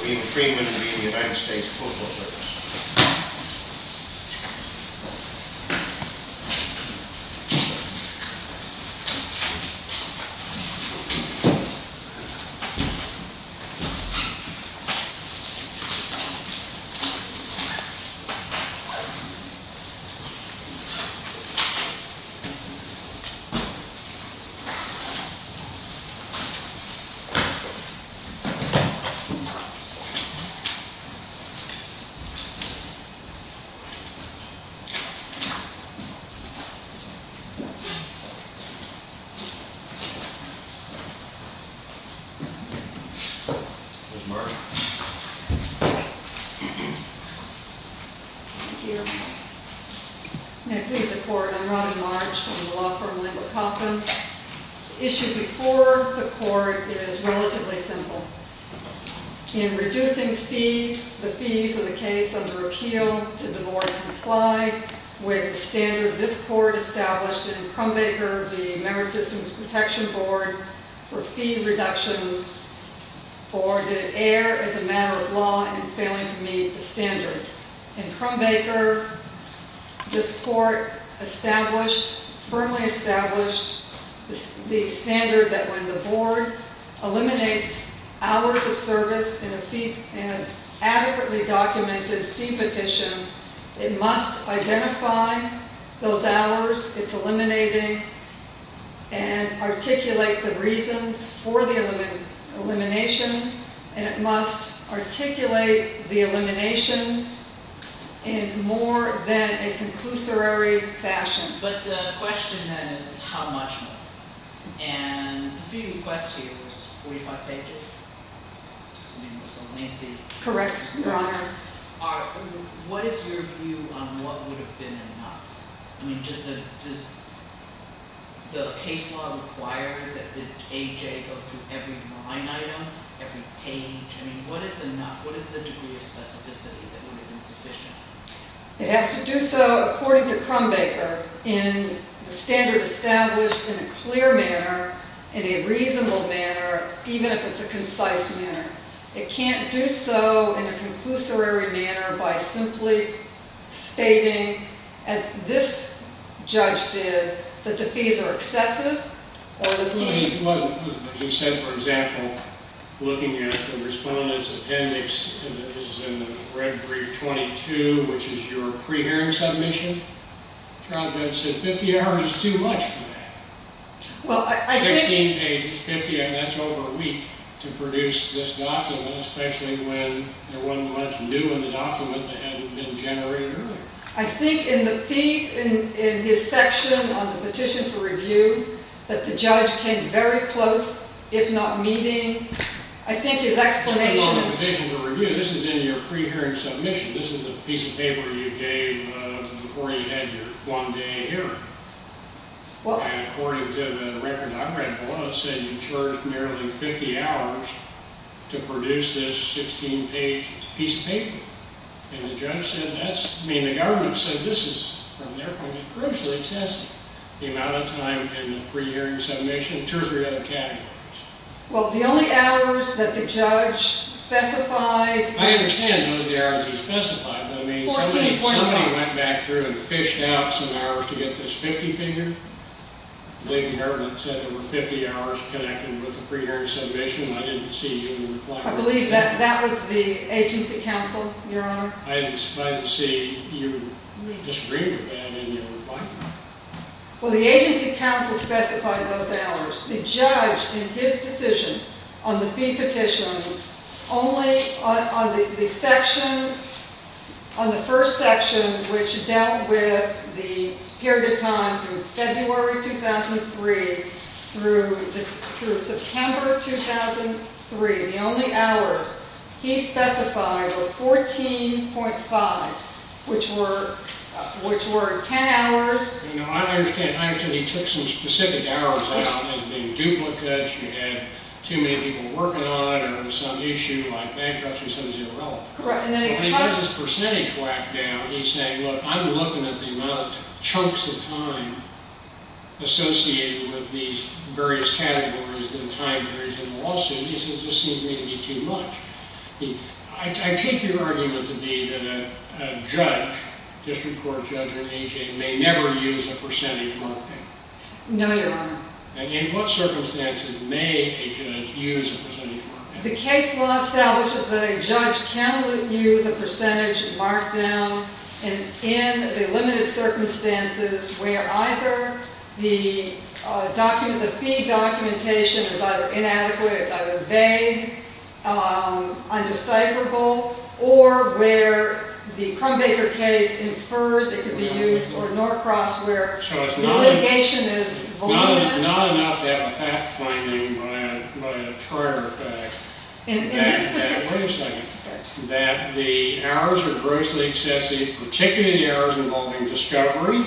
William Freeman v. United States Postal Service Robert Marge LaPaula v. Lartre Madam Claser Court, I'm Robin Marge from the law firm Laimor Copland. The issue Before the court is relatively simple. In reducing fees, the fees of the case under appeal, did the board comply with the standard this court established in Crumbaker, the Member Systems Protection Board, for fee reductions, or did it err as a matter of law in failing to meet the standard? In Crumbaker, this court established, firmly established, the standard that when the board eliminates hours of service in a adequately documented fee petition, it must identify those hours it's eliminating and articulate the reasons for the elimination, and it must articulate the elimination in more than a few requests here, it was 45 pages? I mean, it was a lengthy. Correct, Your Honor. All right. What is your view on what would have been enough? I mean, does the case law require that the AJ go through every line item, every page? I mean, what is enough? What is the degree of specificity that would have been sufficient? It has to do so, according to Crumbaker, in the standard established in a clear manner, in a reasonable manner, even if it's a concise manner. It can't do so in a conclusory manner by simply stating, as this judge did, that the fees are excessive, or that he... But he said, for example, looking at the Respondent's Appendix, in the red brief 22, which is your pre-hearing submission, the trial judge said 50 hours is too much for that. Well, I think... 16 pages, 50 hours, that's over a week to produce this document, especially when there wasn't much new in the document that hadn't been generated earlier. I think in the fee, in his section on the petition for review, that the judge came very close, if not meeting, I think his Well, the petition for review, this is in your pre-hearing submission, this is a piece of paper you gave before you had your one-day hearing. And according to the record, I read below, it said you charged nearly 50 hours to produce this 16-page piece of paper. And the judge said that's... I mean, the government said this is, from their point of view, crucially excessive, the amount of time in the pre-hearing submission, and two or three other categories. Well, the only hours that the judge specified... I understand those are the hours that he specified, but I mean, somebody went back through and fished out some hours to get this 50-figure? The government said there were 50 hours connected with the pre-hearing submission, and I didn't see your reply. I believe that was the agency counsel, Your Honor. I'm surprised to see you disagree with that in your reply. Well, the agency counsel specified those hours. The judge, in his decision on the fee petition, only on the section, on the first section, which dealt with the period of time from February 2003 through September 2003, the only hours he specified were 14.5, which were 10 hours. You know, I understand he took some specific hours out. They were duplicates, you had too many people working on it, or some issue like bankruptcy, so it was irrelevant. Correct. And he has his percentage whacked down. He's saying, look, I'm looking at the amount of chunks of time associated with these various categories and time periods in the lawsuit. These just seem to me to be too much. I take your argument to be that a judge, district court judge or agent, may never use a percentage marking. No, Your Honor. And in what circumstances may a judge use a percentage marking? The case law establishes that a judge can use a percentage markdown in the limited circumstances where either the document, the fee documentation is either inadequate, it's either vague, undecipherable, or where the Crumbaker case infers it could be used, or Norcross, where the litigation is voluminous. It's not enough to have a fact finding by a trier fact. In this particular case. Wait a second. That the hours are grossly excessive, particularly the hours involving discovery,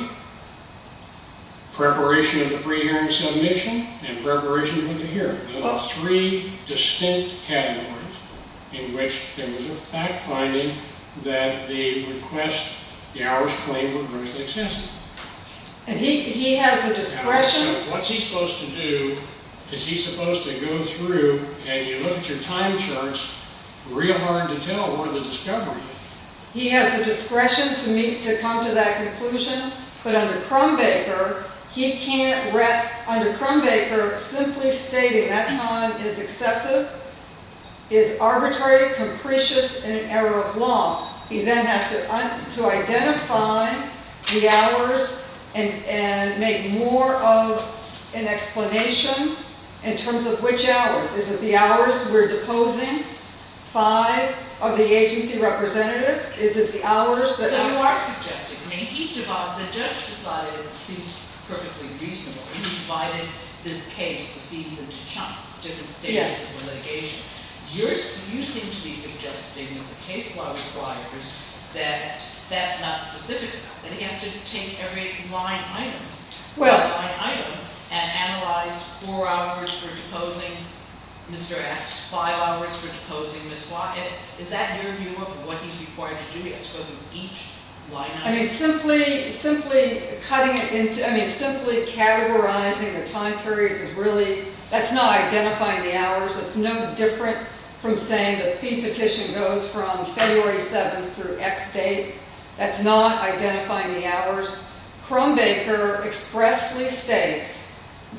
preparation of the pre-hearing submission, and preparation for the hearing. Those are three distinct categories in which there was a fact finding that the request, the hours claimed, were grossly excessive. And he has the discretion. What's he supposed to do? Is he supposed to go through, and you look at your time charts, real hard to tell where the discovery is. He has the discretion to come to that conclusion, but under Crumbaker, he can't, under Crumbaker, simply stating that time is excessive is arbitrary, capricious, and an error of law. He then has to identify the hours and make more of an explanation in terms of which hours. Is it the hours we're deposing? Five of the agency representatives? Is it the hours that... So you are suggesting, I mean, each of the judge decided it seems perfectly reasonable. You divided this case, the fees, into chunks, different stages of the litigation. You seem to be suggesting with the case law requires that that's not specific. That he has to take every line item, every line item, and analyze four hours for deposing Mr. X, five hours for deposing Ms. Wyatt. Is that your view of what he's required to do? He has to go through each line item? I mean, simply categorizing the time periods is really... That's not identifying the hours. It's no different from saying the fee petition goes from February 7th through X date. That's not identifying the hours. Crumbaker expressly states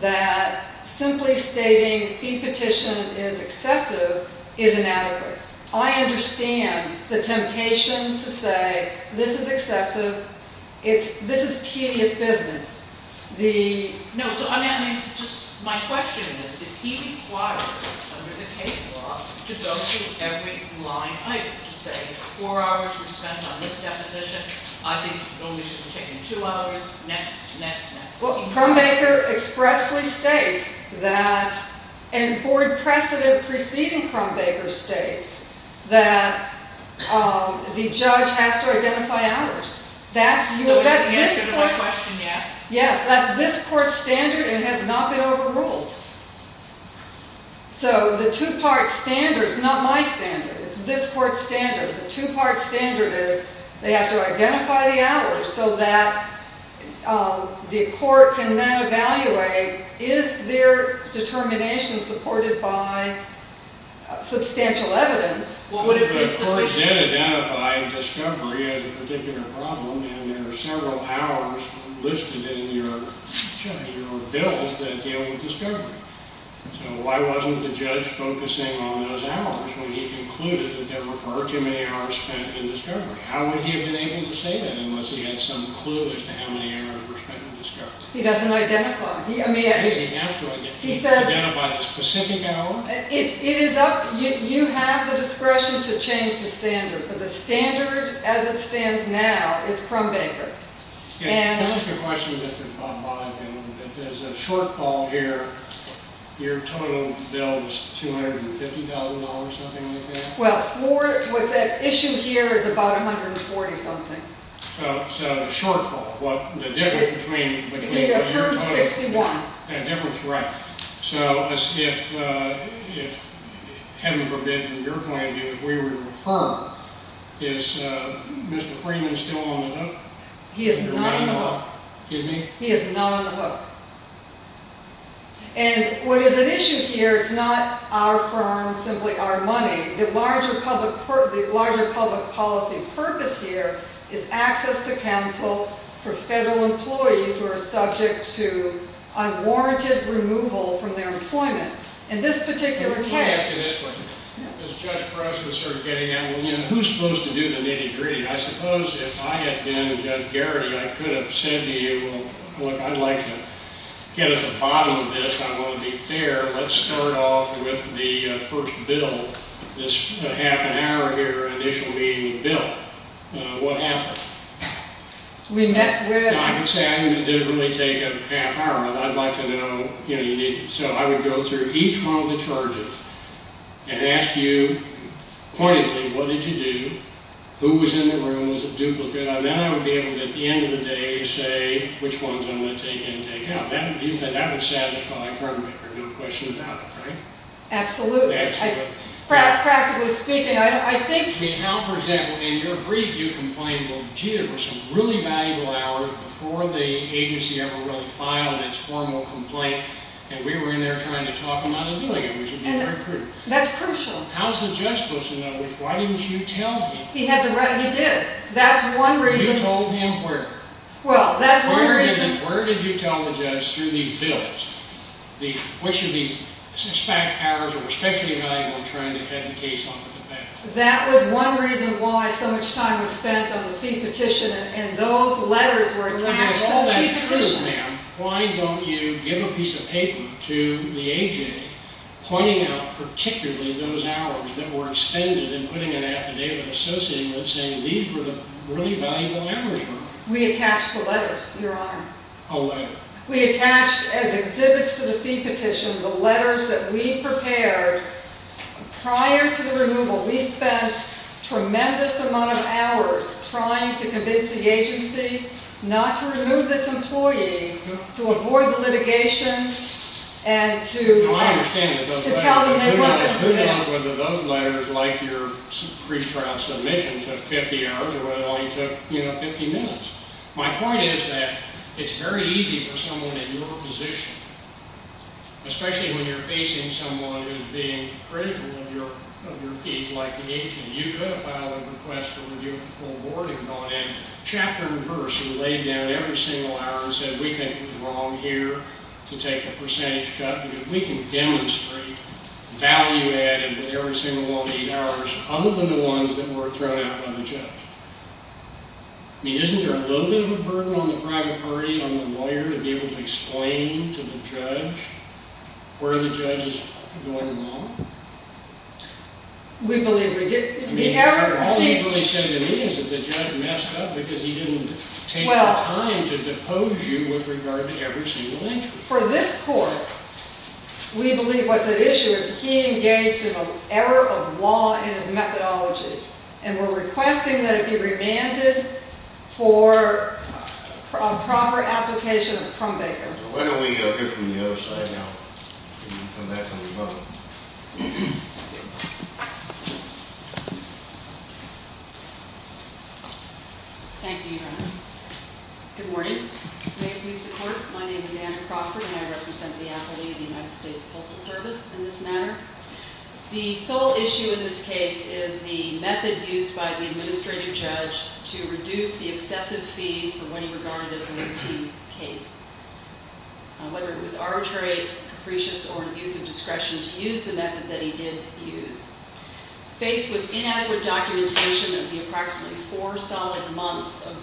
that simply stating fee petition is excessive is inadequate. I understand the temptation to say this is excessive. This is tedious business. No, so I mean, just my question is, is he required under the case law to go through every line item to say four hours were spent on this deposition. I think it only should have taken two hours. Next, next, next. Crumbaker expressly states that, and board precedent preceding Crumbaker states that the judge has to identify hours. So the answer to my question, yes. Yes, that's this court's standard and has not been overruled. So the two-part standard is not my standard. It's this court's standard. The two-part standard is they have to identify the hours so that the court can then evaluate, is their determination supported by substantial evidence? The court did identify discovery as a particular problem and there are several hours listed in your bill that deal with discovery. So why wasn't the judge focusing on those hours when he concluded that there were far too many hours spent in discovery? How would he have been able to say that unless he had some clue as to how many hours were spent in discovery? He doesn't identify them. He has to identify them. Identify the specific hour? It is up... You have the discretion to change the standard, but the standard as it stands now is Crumbaker. And... This is the question that's been brought by him. If there's a shortfall here, your total bill is $250,000, something like that? Well, for... What's at issue here is about $140,000 something. So a shortfall. Well, the difference between... Between the terms 61. The difference, right. So as if... Heaven forbid, from your point of view, if we were a firm, is Mr. Freeman still on the hook? He is not on the hook. Excuse me? He is not on the hook. And what is at issue here is not our firm, simply our money. The larger public policy purpose here is access to counsel for federal employees who are subject to unwarranted removal from their employment. In this particular case... Let me ask you this question. As Judge Crouch was sort of getting at, who's supposed to do the nitty-gritty? I suppose if I had been Judge Garrity, I could have said to you, look, I'd like to get at the bottom of this. I want to be fair. Let's start off with the first bill, this half an hour here, initial meeting bill. What happened? We met with... I would say I didn't really take a half hour. I'd like to know... So I would go through each one of the charges and ask you pointedly, what did you do? Who was in the room? Was it duplicate? And then I would be able to, at the end of the day, say which ones I'm going to take in and take out. You said that would satisfy a firm maker, no question about it, right? Absolutely. Practically speaking, I think... How, for example, in your brief you complained, gee, there were some really valuable hours before the agency ever really filed its formal complaint and we were in there trying to talk them out of doing it. We should be very prudent. That's crucial. How's the judge supposed to know? Why didn't you tell him? He had the right... He did. That's one reason... You told him where? Well, that's one reason... Where did you tell the judge through these bills? Which of these suspect hours were especially valuable in trying to get the case off the path? That was one reason why so much time was spent on the fee petition and those letters were attached to the fee petition. If all that's true, ma'am, why don't you give a piece of paper to the agency pointing out particularly those hours that were expended and putting an affidavit associating them saying these were the really valuable hours, ma'am? We attached the letters, Your Honor. A letter? We attached, as exhibits to the fee petition, the letters that we prepared prior to the removal. We spent a tremendous amount of hours trying to convince the agency not to remove this employee, to avoid the litigation, and to... I understand that those letters... ...to tell them they weren't... Who knows whether those letters, like your pretrial submission, took 50 hours or whether all you took, you know, 50 minutes. My point is that it's very easy for someone in your position, especially when you're facing someone who's being critical of your fees, like the agent. You could have filed a request for review of the full board and gone in, chapter and verse, and laid down every single hour and said we think it was wrong here to take a percentage cut. We can demonstrate value added with every single one of the eight hours, other than the ones that were thrown out by the judge. I mean, isn't there a little bit of a burden on the private party, on the lawyer, to be able to explain to the judge where the judge is going wrong? We believe we did... All you really said to me is that the judge messed up because he didn't take the time to depose you with regard to every single answer. For this court, we believe what's at issue is he engaged in an error of law in his methodology, and we're requesting that it be remanded for a proper application from Baker. Why don't we hear from the other side now? Come back when you're done. Thank you, Your Honor. Good morning. May it please the court, my name is Anna Crawford, and I represent the appellee of the United States Postal Service in this matter. The sole issue in this case is the method used by the administrative judge to reduce the excessive fees for when he regarded it as an empty case, whether it was arbitrary, capricious, or an abuse of discretion to use the method that he did use. Faced with inaccurate documentation of the approximately four solid months of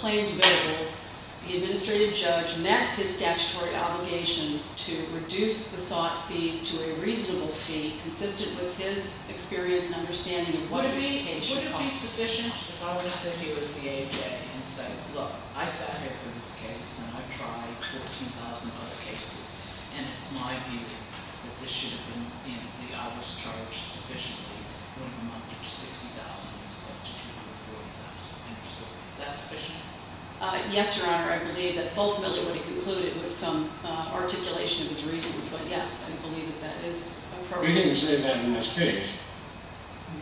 claimed variables, the administrative judge met his statutory obligation to reduce the sought fees to a reasonable fee consistent with his experience and understanding of what a vacation costs. Would it be sufficient if I were to say he was the A.J. and say, look, I sat here for this case and I've tried 14,000 other cases and it's my view that this should have been the hours charged sufficiently when it amounted to $60,000 as opposed to $240,000. Is that sufficient? Yes, Your Honor, I believe that's ultimately what he concluded with some articulation of his reasons, but yes, I believe that that is appropriate. We didn't say that in this case.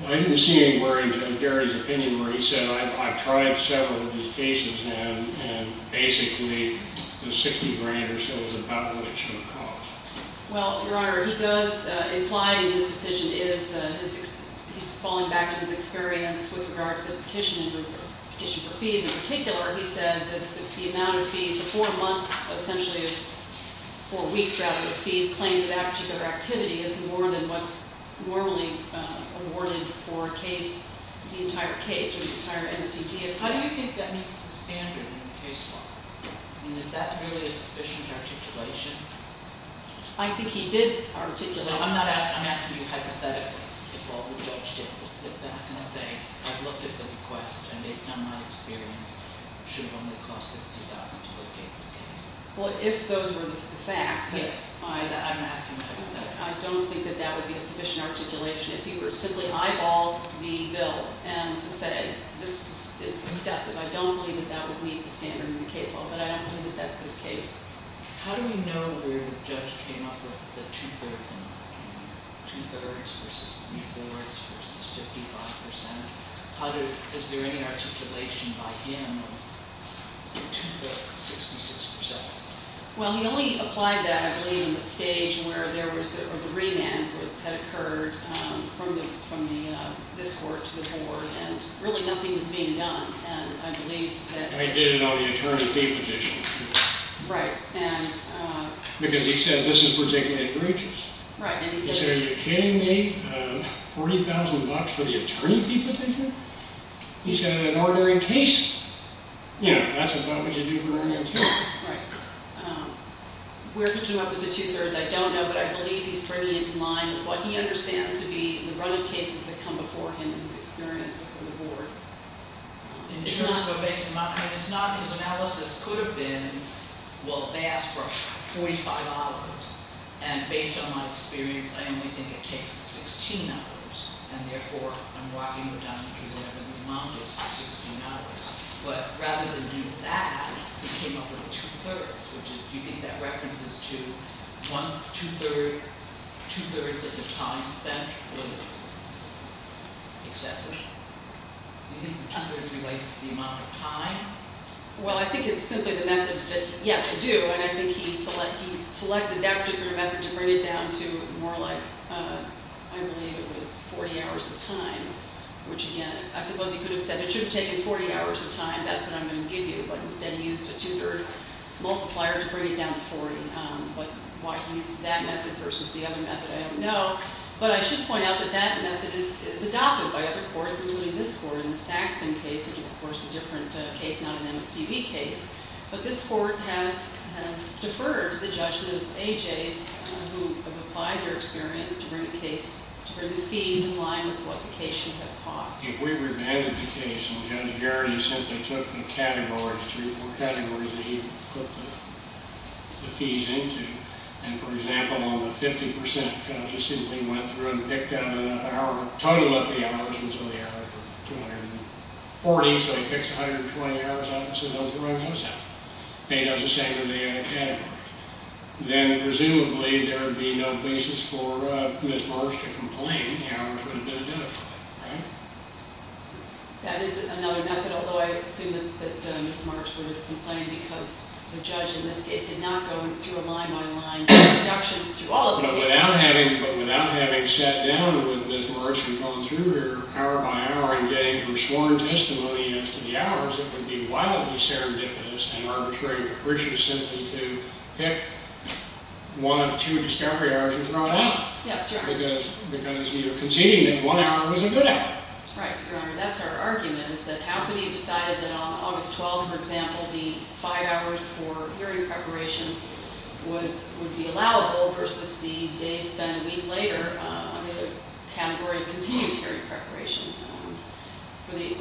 I didn't see any words of Gary's opinion where he said, I've tried several of these cases and basically the $60,000 or so is about what it should have cost. Well, Your Honor, he does imply in his decision he's falling back on his experience with regard to the petition for fees. In particular, he said that the amount of fees, the four months, but essentially four weeks rather, of fees claimed in that particular activity is more than what's normally awarded for the entire case or the entire NCD. How do you think that meets the standard in the case law? I mean, is that really a sufficient articulation? I think he did articulate... I'm not asking... I'm asking you hypothetically if all the judge did was sit back and say, I've looked at the request and based on my experience it should have only cost $60,000 to locate this case. Well, if those were the facts... Yes. I'm asking you hypothetically. I don't think that that would be a sufficient articulation. If he were to simply eyeball the bill and to say this is excessive, I don't believe that that would meet the standard in the case law, but I don't believe that that's his case. How do we know where the judge came up with the two-thirds and two-thirds versus three-fourths versus 55 percent? Is there any articulation by him of two-thirds, 66 percent? Well, he only applied that, I believe, in the stage where the remand had occurred from this court to the board and really nothing was being done. And I believe that... I didn't know the attorney fee petition. Right. And... Because he says this is particularly gruesome. Right. He said, are you kidding me? $40,000 for the attorney fee petition? He's got an ordinary case. Yeah, that's about what you do for an ordinary case. Right. Where he came up with the two-thirds I don't know, but I believe he's bringing it in line with what he understands to be the run of cases that come before him in his experience with the board. It's not... I mean, it's not... His analysis could have been, well, they asked for $45, and based on my experience, I only think it takes 16 hours, and therefore, I'm walking him down the street where the remand is for 16 hours. But rather than do that, he came up with two-thirds, which is... Do you think that references to one two-third, two-thirds of the time spent was excessive? Do you think two-thirds relates to the amount of time? Well, I think it's simply the method that, yes, they do, and I think he selected that particular method to bring it down to more like, I believe it was 40 hours of time, which, again, I suppose he could have said it should have taken 40 hours of time, that's what I'm going to give you, but instead he used a two-third multiplier to bring it down to 40. But why he used that method versus the other method, I don't know, but I should point out that that method is adopted by other courts, including this court in the Saxton case, which is, of course, a different case, not an MSDB case, but this court has deferred the judgment of AJs who have applied their experience to bring the fees in line with what the case should have cost. If we remanded the case and Judge Garrity simply took the categories, three or four categories, that he put the fees into, and, for example, on the 50%, just simply went through and picked out an hour, totaled up the hours, was only an hour for 240, so he picks 120 hours out and says, oh, throw those out. He does the same with the categories. Then, presumably, there would be no basis for Ms. Marsh to complain. The hours would have been identified, right? That is another method, although I assume that Ms. Marsh would have complained because the judge, in this case, did not go through a line-by-line induction through all of the cases. But without having sat down with Ms. Marsh and going through her hour-by-hour and getting her sworn testimony as to the hours, it would be wildly serendipitous and arbitrarily precocious simply to pick one of two discovery hours and throw it out. Yes, Your Honor. Because you're conceding that one hour was a good hour. Right, Your Honor. That's our argument, is that how could he have decided that on August 12th, for example, the five hours for hearing preparation would be allowable versus the days spent a week later under the category of continued hearing preparation. Were they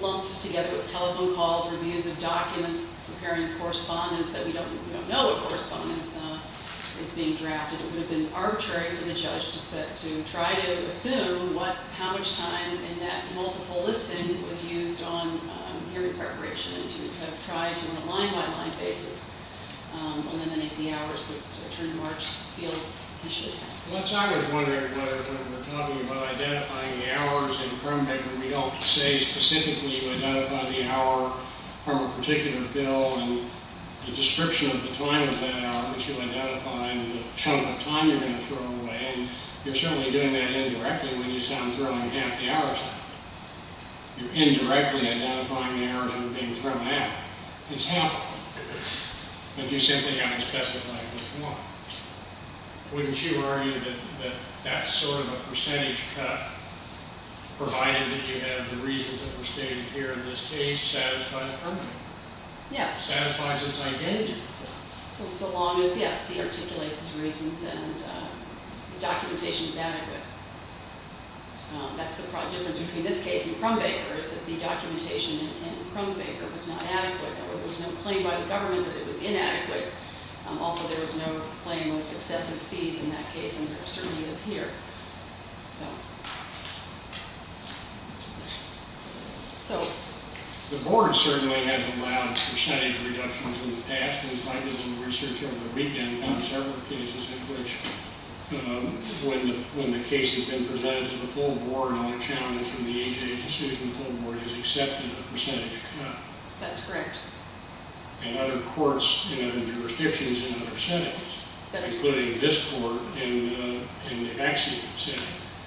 lumped together with telephone calls, reviews of documents, preparing correspondence that we don't know what correspondence is being drafted, it would have been arbitrary for the judge to try to assume how much time in that multiple listing was used on hearing preparation and to have tried to, on a line-by-line basis, eliminate the hours that Attorney March feels he should have. Well, that's why I was wondering whether when we're talking about identifying the hours in the crime record, we don't say specifically you identify the hour from a particular bill and the description of the time of that hour that you identify and the chunk of time you're going to throw away, and you're certainly doing that indirectly when you say I'm throwing half the hours out. You're indirectly identifying the hours that are being thrown out. It's half of them. But you simply haven't specified which one. Wouldn't you argue that that's sort of a percentage cut, provided that you have the reasons that were stated here in this case satisfied permanently? Yes. Satisfies its identity. So long as, yes, he articulates his reasons and the documentation is adequate. That's the difference between this case and Crumbaker, is that the documentation in Crumbaker was not adequate. There was no claim by the government that it was inadequate. Also, there was no claim with excessive fees in that case, and there certainly is here. So... So... The board certainly has allowed percentage reductions in the past. In fact, there was some research over the weekend on several cases in which when the case has been presented to the full board and all the challenges from the age agency from the full board is accepted a percentage cut. That's correct. In other courts, in other jurisdictions, in other senates, including this court in the Axiom Senate.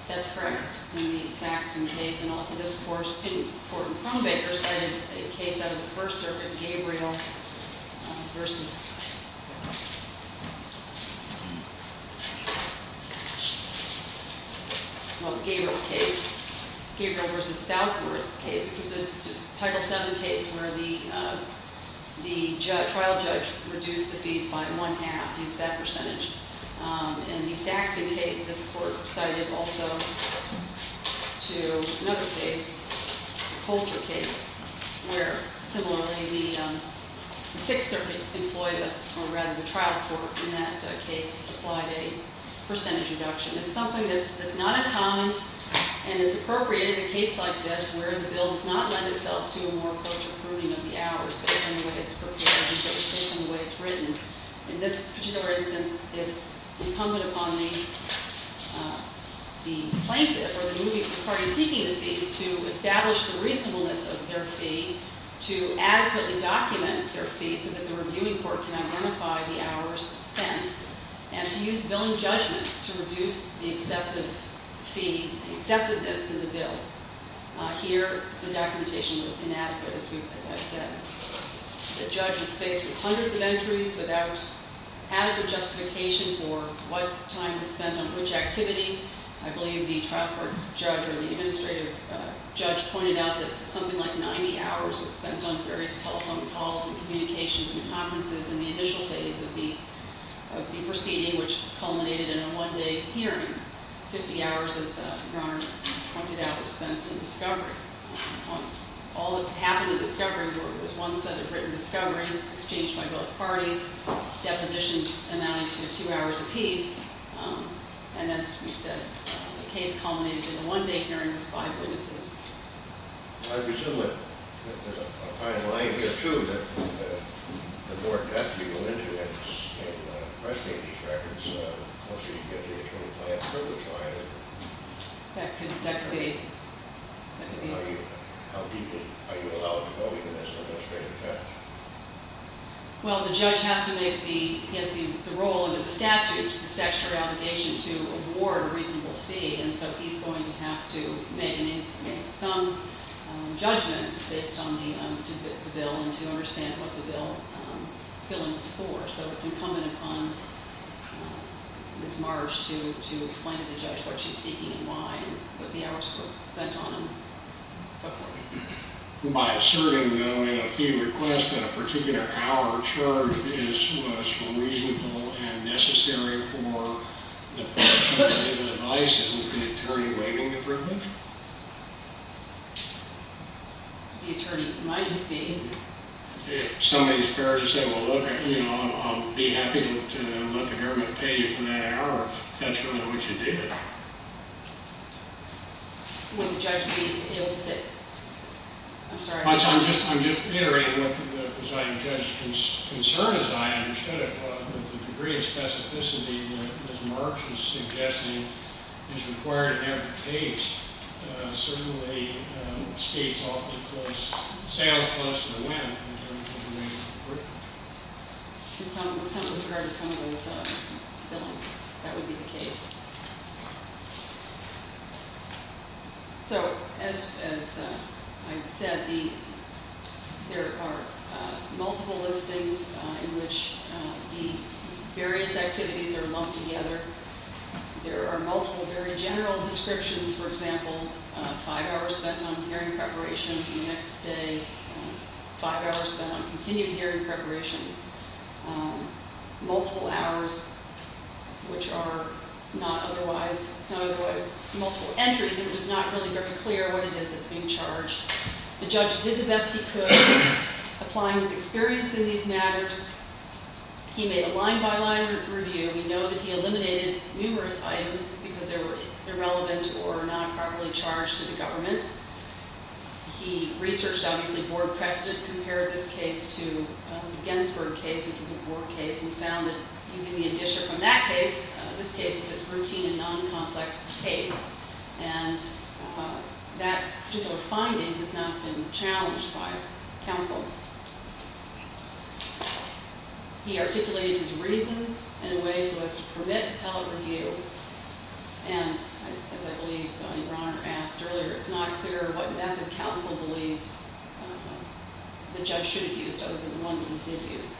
That's correct. In the Saxton case and also this court in court in Crumbaker case, which was a case in which there was a case in which there was a case in which there was a case in which there was a case in which there was a Title VII case where the There was a Title VII case where the trial judge reduced the fees reduced the fees by one half. He's that percentage. In the Saxton case, this court decided also to another case, Holter case, where similarly the sixth circuit employed a rather trial court in that case to apply a percentage reduction. It's something that's not uncommon and is appropriated in a case like this where the bill does not lend itself to a more closer pruning of the hours based on the way it's prepared and based on the way it's written. In this particular instance, it's incumbent upon the the plaintiff or the party seeking the fees to establish the reasonableness of their fee to adequately document their fee so that the reviewing court can identify the hours spent and to use billing judgment to reduce the excessive fee excessiveness of the bill. Here, the documentation was inadequate as I said. The judge was faced with hundreds of entries without adequate justification for what time was spent on which activity. I believe the trial court judge or the administrative judge pointed out that something like 90 hours was spent on various telephone calls and communications and conferences in the initial phase of the proceeding which culminated in a one-day hearing. 50 hours as your Honor pointed out was spent in discovery. All that happened in discovery was one set of written discovery exchanged by both parties, depositions amounting to two hours apiece, and as you said, the case culminated in a one-day hearing with five witnesses. I presume that there's a fine line here too that the board got people into and questioned these records once you get the attorney plan for the trial and how deeply are you allowed to go into this administrative judge? Well, the judge has to make the role under the statutes the statutory obligation to award a reasonable fee and so he's going to have to make some judgment based on the bill and to understand what the bill is for. So it's incumbent upon Ms. Marsh to explain to the judge what she's seeking and why and what the hours were spent on. By asserting though in a fee request that a particular hour charge was reasonable and necessary for the person to give an advice and an attorney waiting approval? The attorney might be. If somebody is fair to say, well, look, I'll be happy to let the government pay you for that hour if that's really what you did. Would the judge be able to say... I'm sorry. I don't know if the presiding judge's concern as I understood it, but the degree of specificity that Ms. Marsh is suggesting is required in every case certainly states awfully close, sounds close to the limit in terms of the rate of approval. MS. MARSH So as I said, there are multiple listings in which the various activities are lumped together. There are multiple very general descriptions, for example, five hours spent on hearing preparation the next day, five hours spent on continued hearing preparation, multiple hours, which are not otherwise multiple entries. It is not really very clear what it is that's being charged. The judge did the best he could applying his experience in these matters. He made a line-by-line review. We know that he eliminated numerous items because they were irrelevant or not properly charged to the government. He researched, obviously, board precedent, compared this case to the Gettysburg case, which was a board case, and found that using the addition from that case, this case is a routine and non-complex case, and that particular finding has not been challenged by counsel. He articulated his reasons in a way so as to permit held review, and, as I believe Ron asked earlier, it's not clear what method counsel believes the judge should have used other than the one that he did use.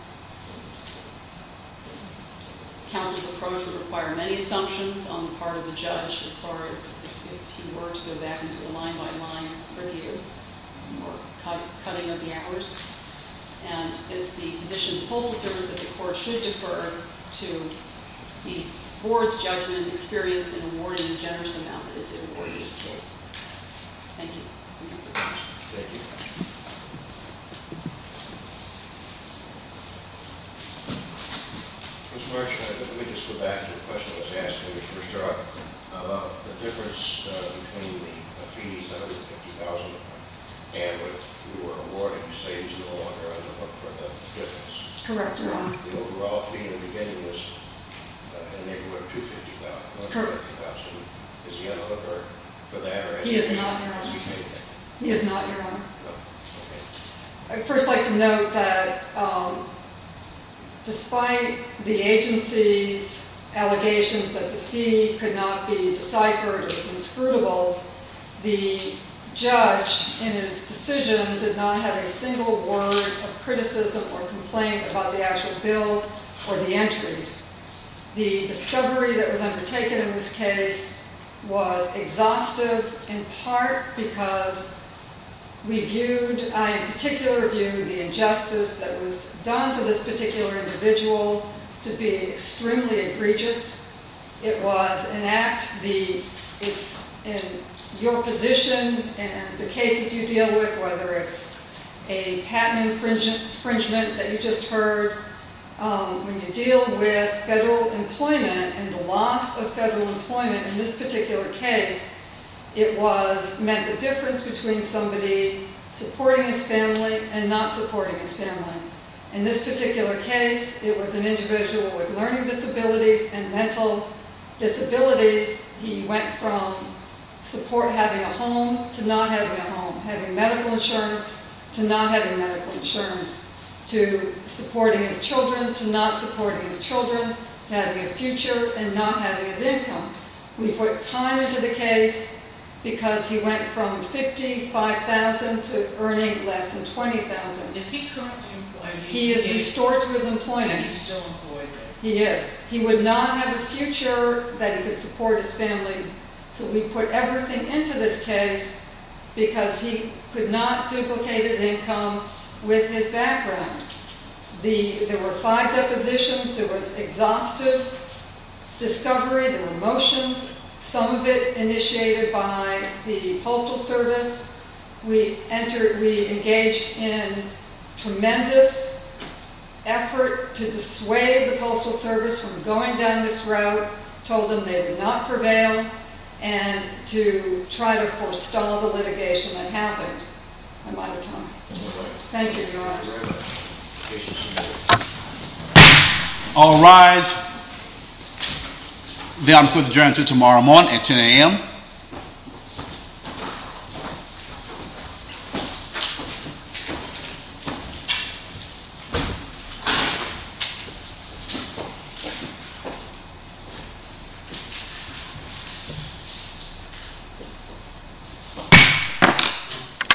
Counsel's approach would require many assumptions on the part of the judge as far as if he were to go back and do a line-by-line review, or cutting of the hours, and it's the position that the court should defer to the board's judgment and experience in awarding a generous amount of it to the board in this case. Thank you. Thank you. Mr. Marsh, let me just go back to the question that you asked about the difference between the fees, that was $50,000, and what you were awarded, you say is no longer in the book for the difference. Correct, Ron. The overall fee in the beginning was $250,000. Correct. Is he eligible for that? He is not. I'd first like to note that despite the agency's allegations that the fee could not be deciphered or was inscrutable, the judge in his decision did not have a single word of criticism or complaint about the actual bill or the entries. The discovery that was undertaken in this case was exhaustive in part because we viewed, I in particular viewed the injustice that was done to this particular individual to be extremely egregious. It was an act in your position and the cases you deal with, whether it's a patent infringement that you just heard, when you deal with federal employment and the loss of federal employment in this particular case, it meant the difference between somebody supporting his family and not supporting his family. In this particular case, it was an individual with learning disabilities and mental disabilities. He went from support having a home to not having a house to supporting his children to not supporting his children to having a future and not having his income. We put time into the case because he went from $55,000 to earning less than $20,000. He is restored to his employment. He is. He would not have a future that he could support his family, so we put everything into this case because he could not duplicate his income. We put time into went from than $20,000. He would not have a future that he could support his this case because he went from $55,000 to earning less than $20,000. He would not have a future that he could support his family, so we put because he $55,000 to future that he could support his family, so we put time into put time into this case because he could could support his family, so we put shaped times into because he could support his family, so we put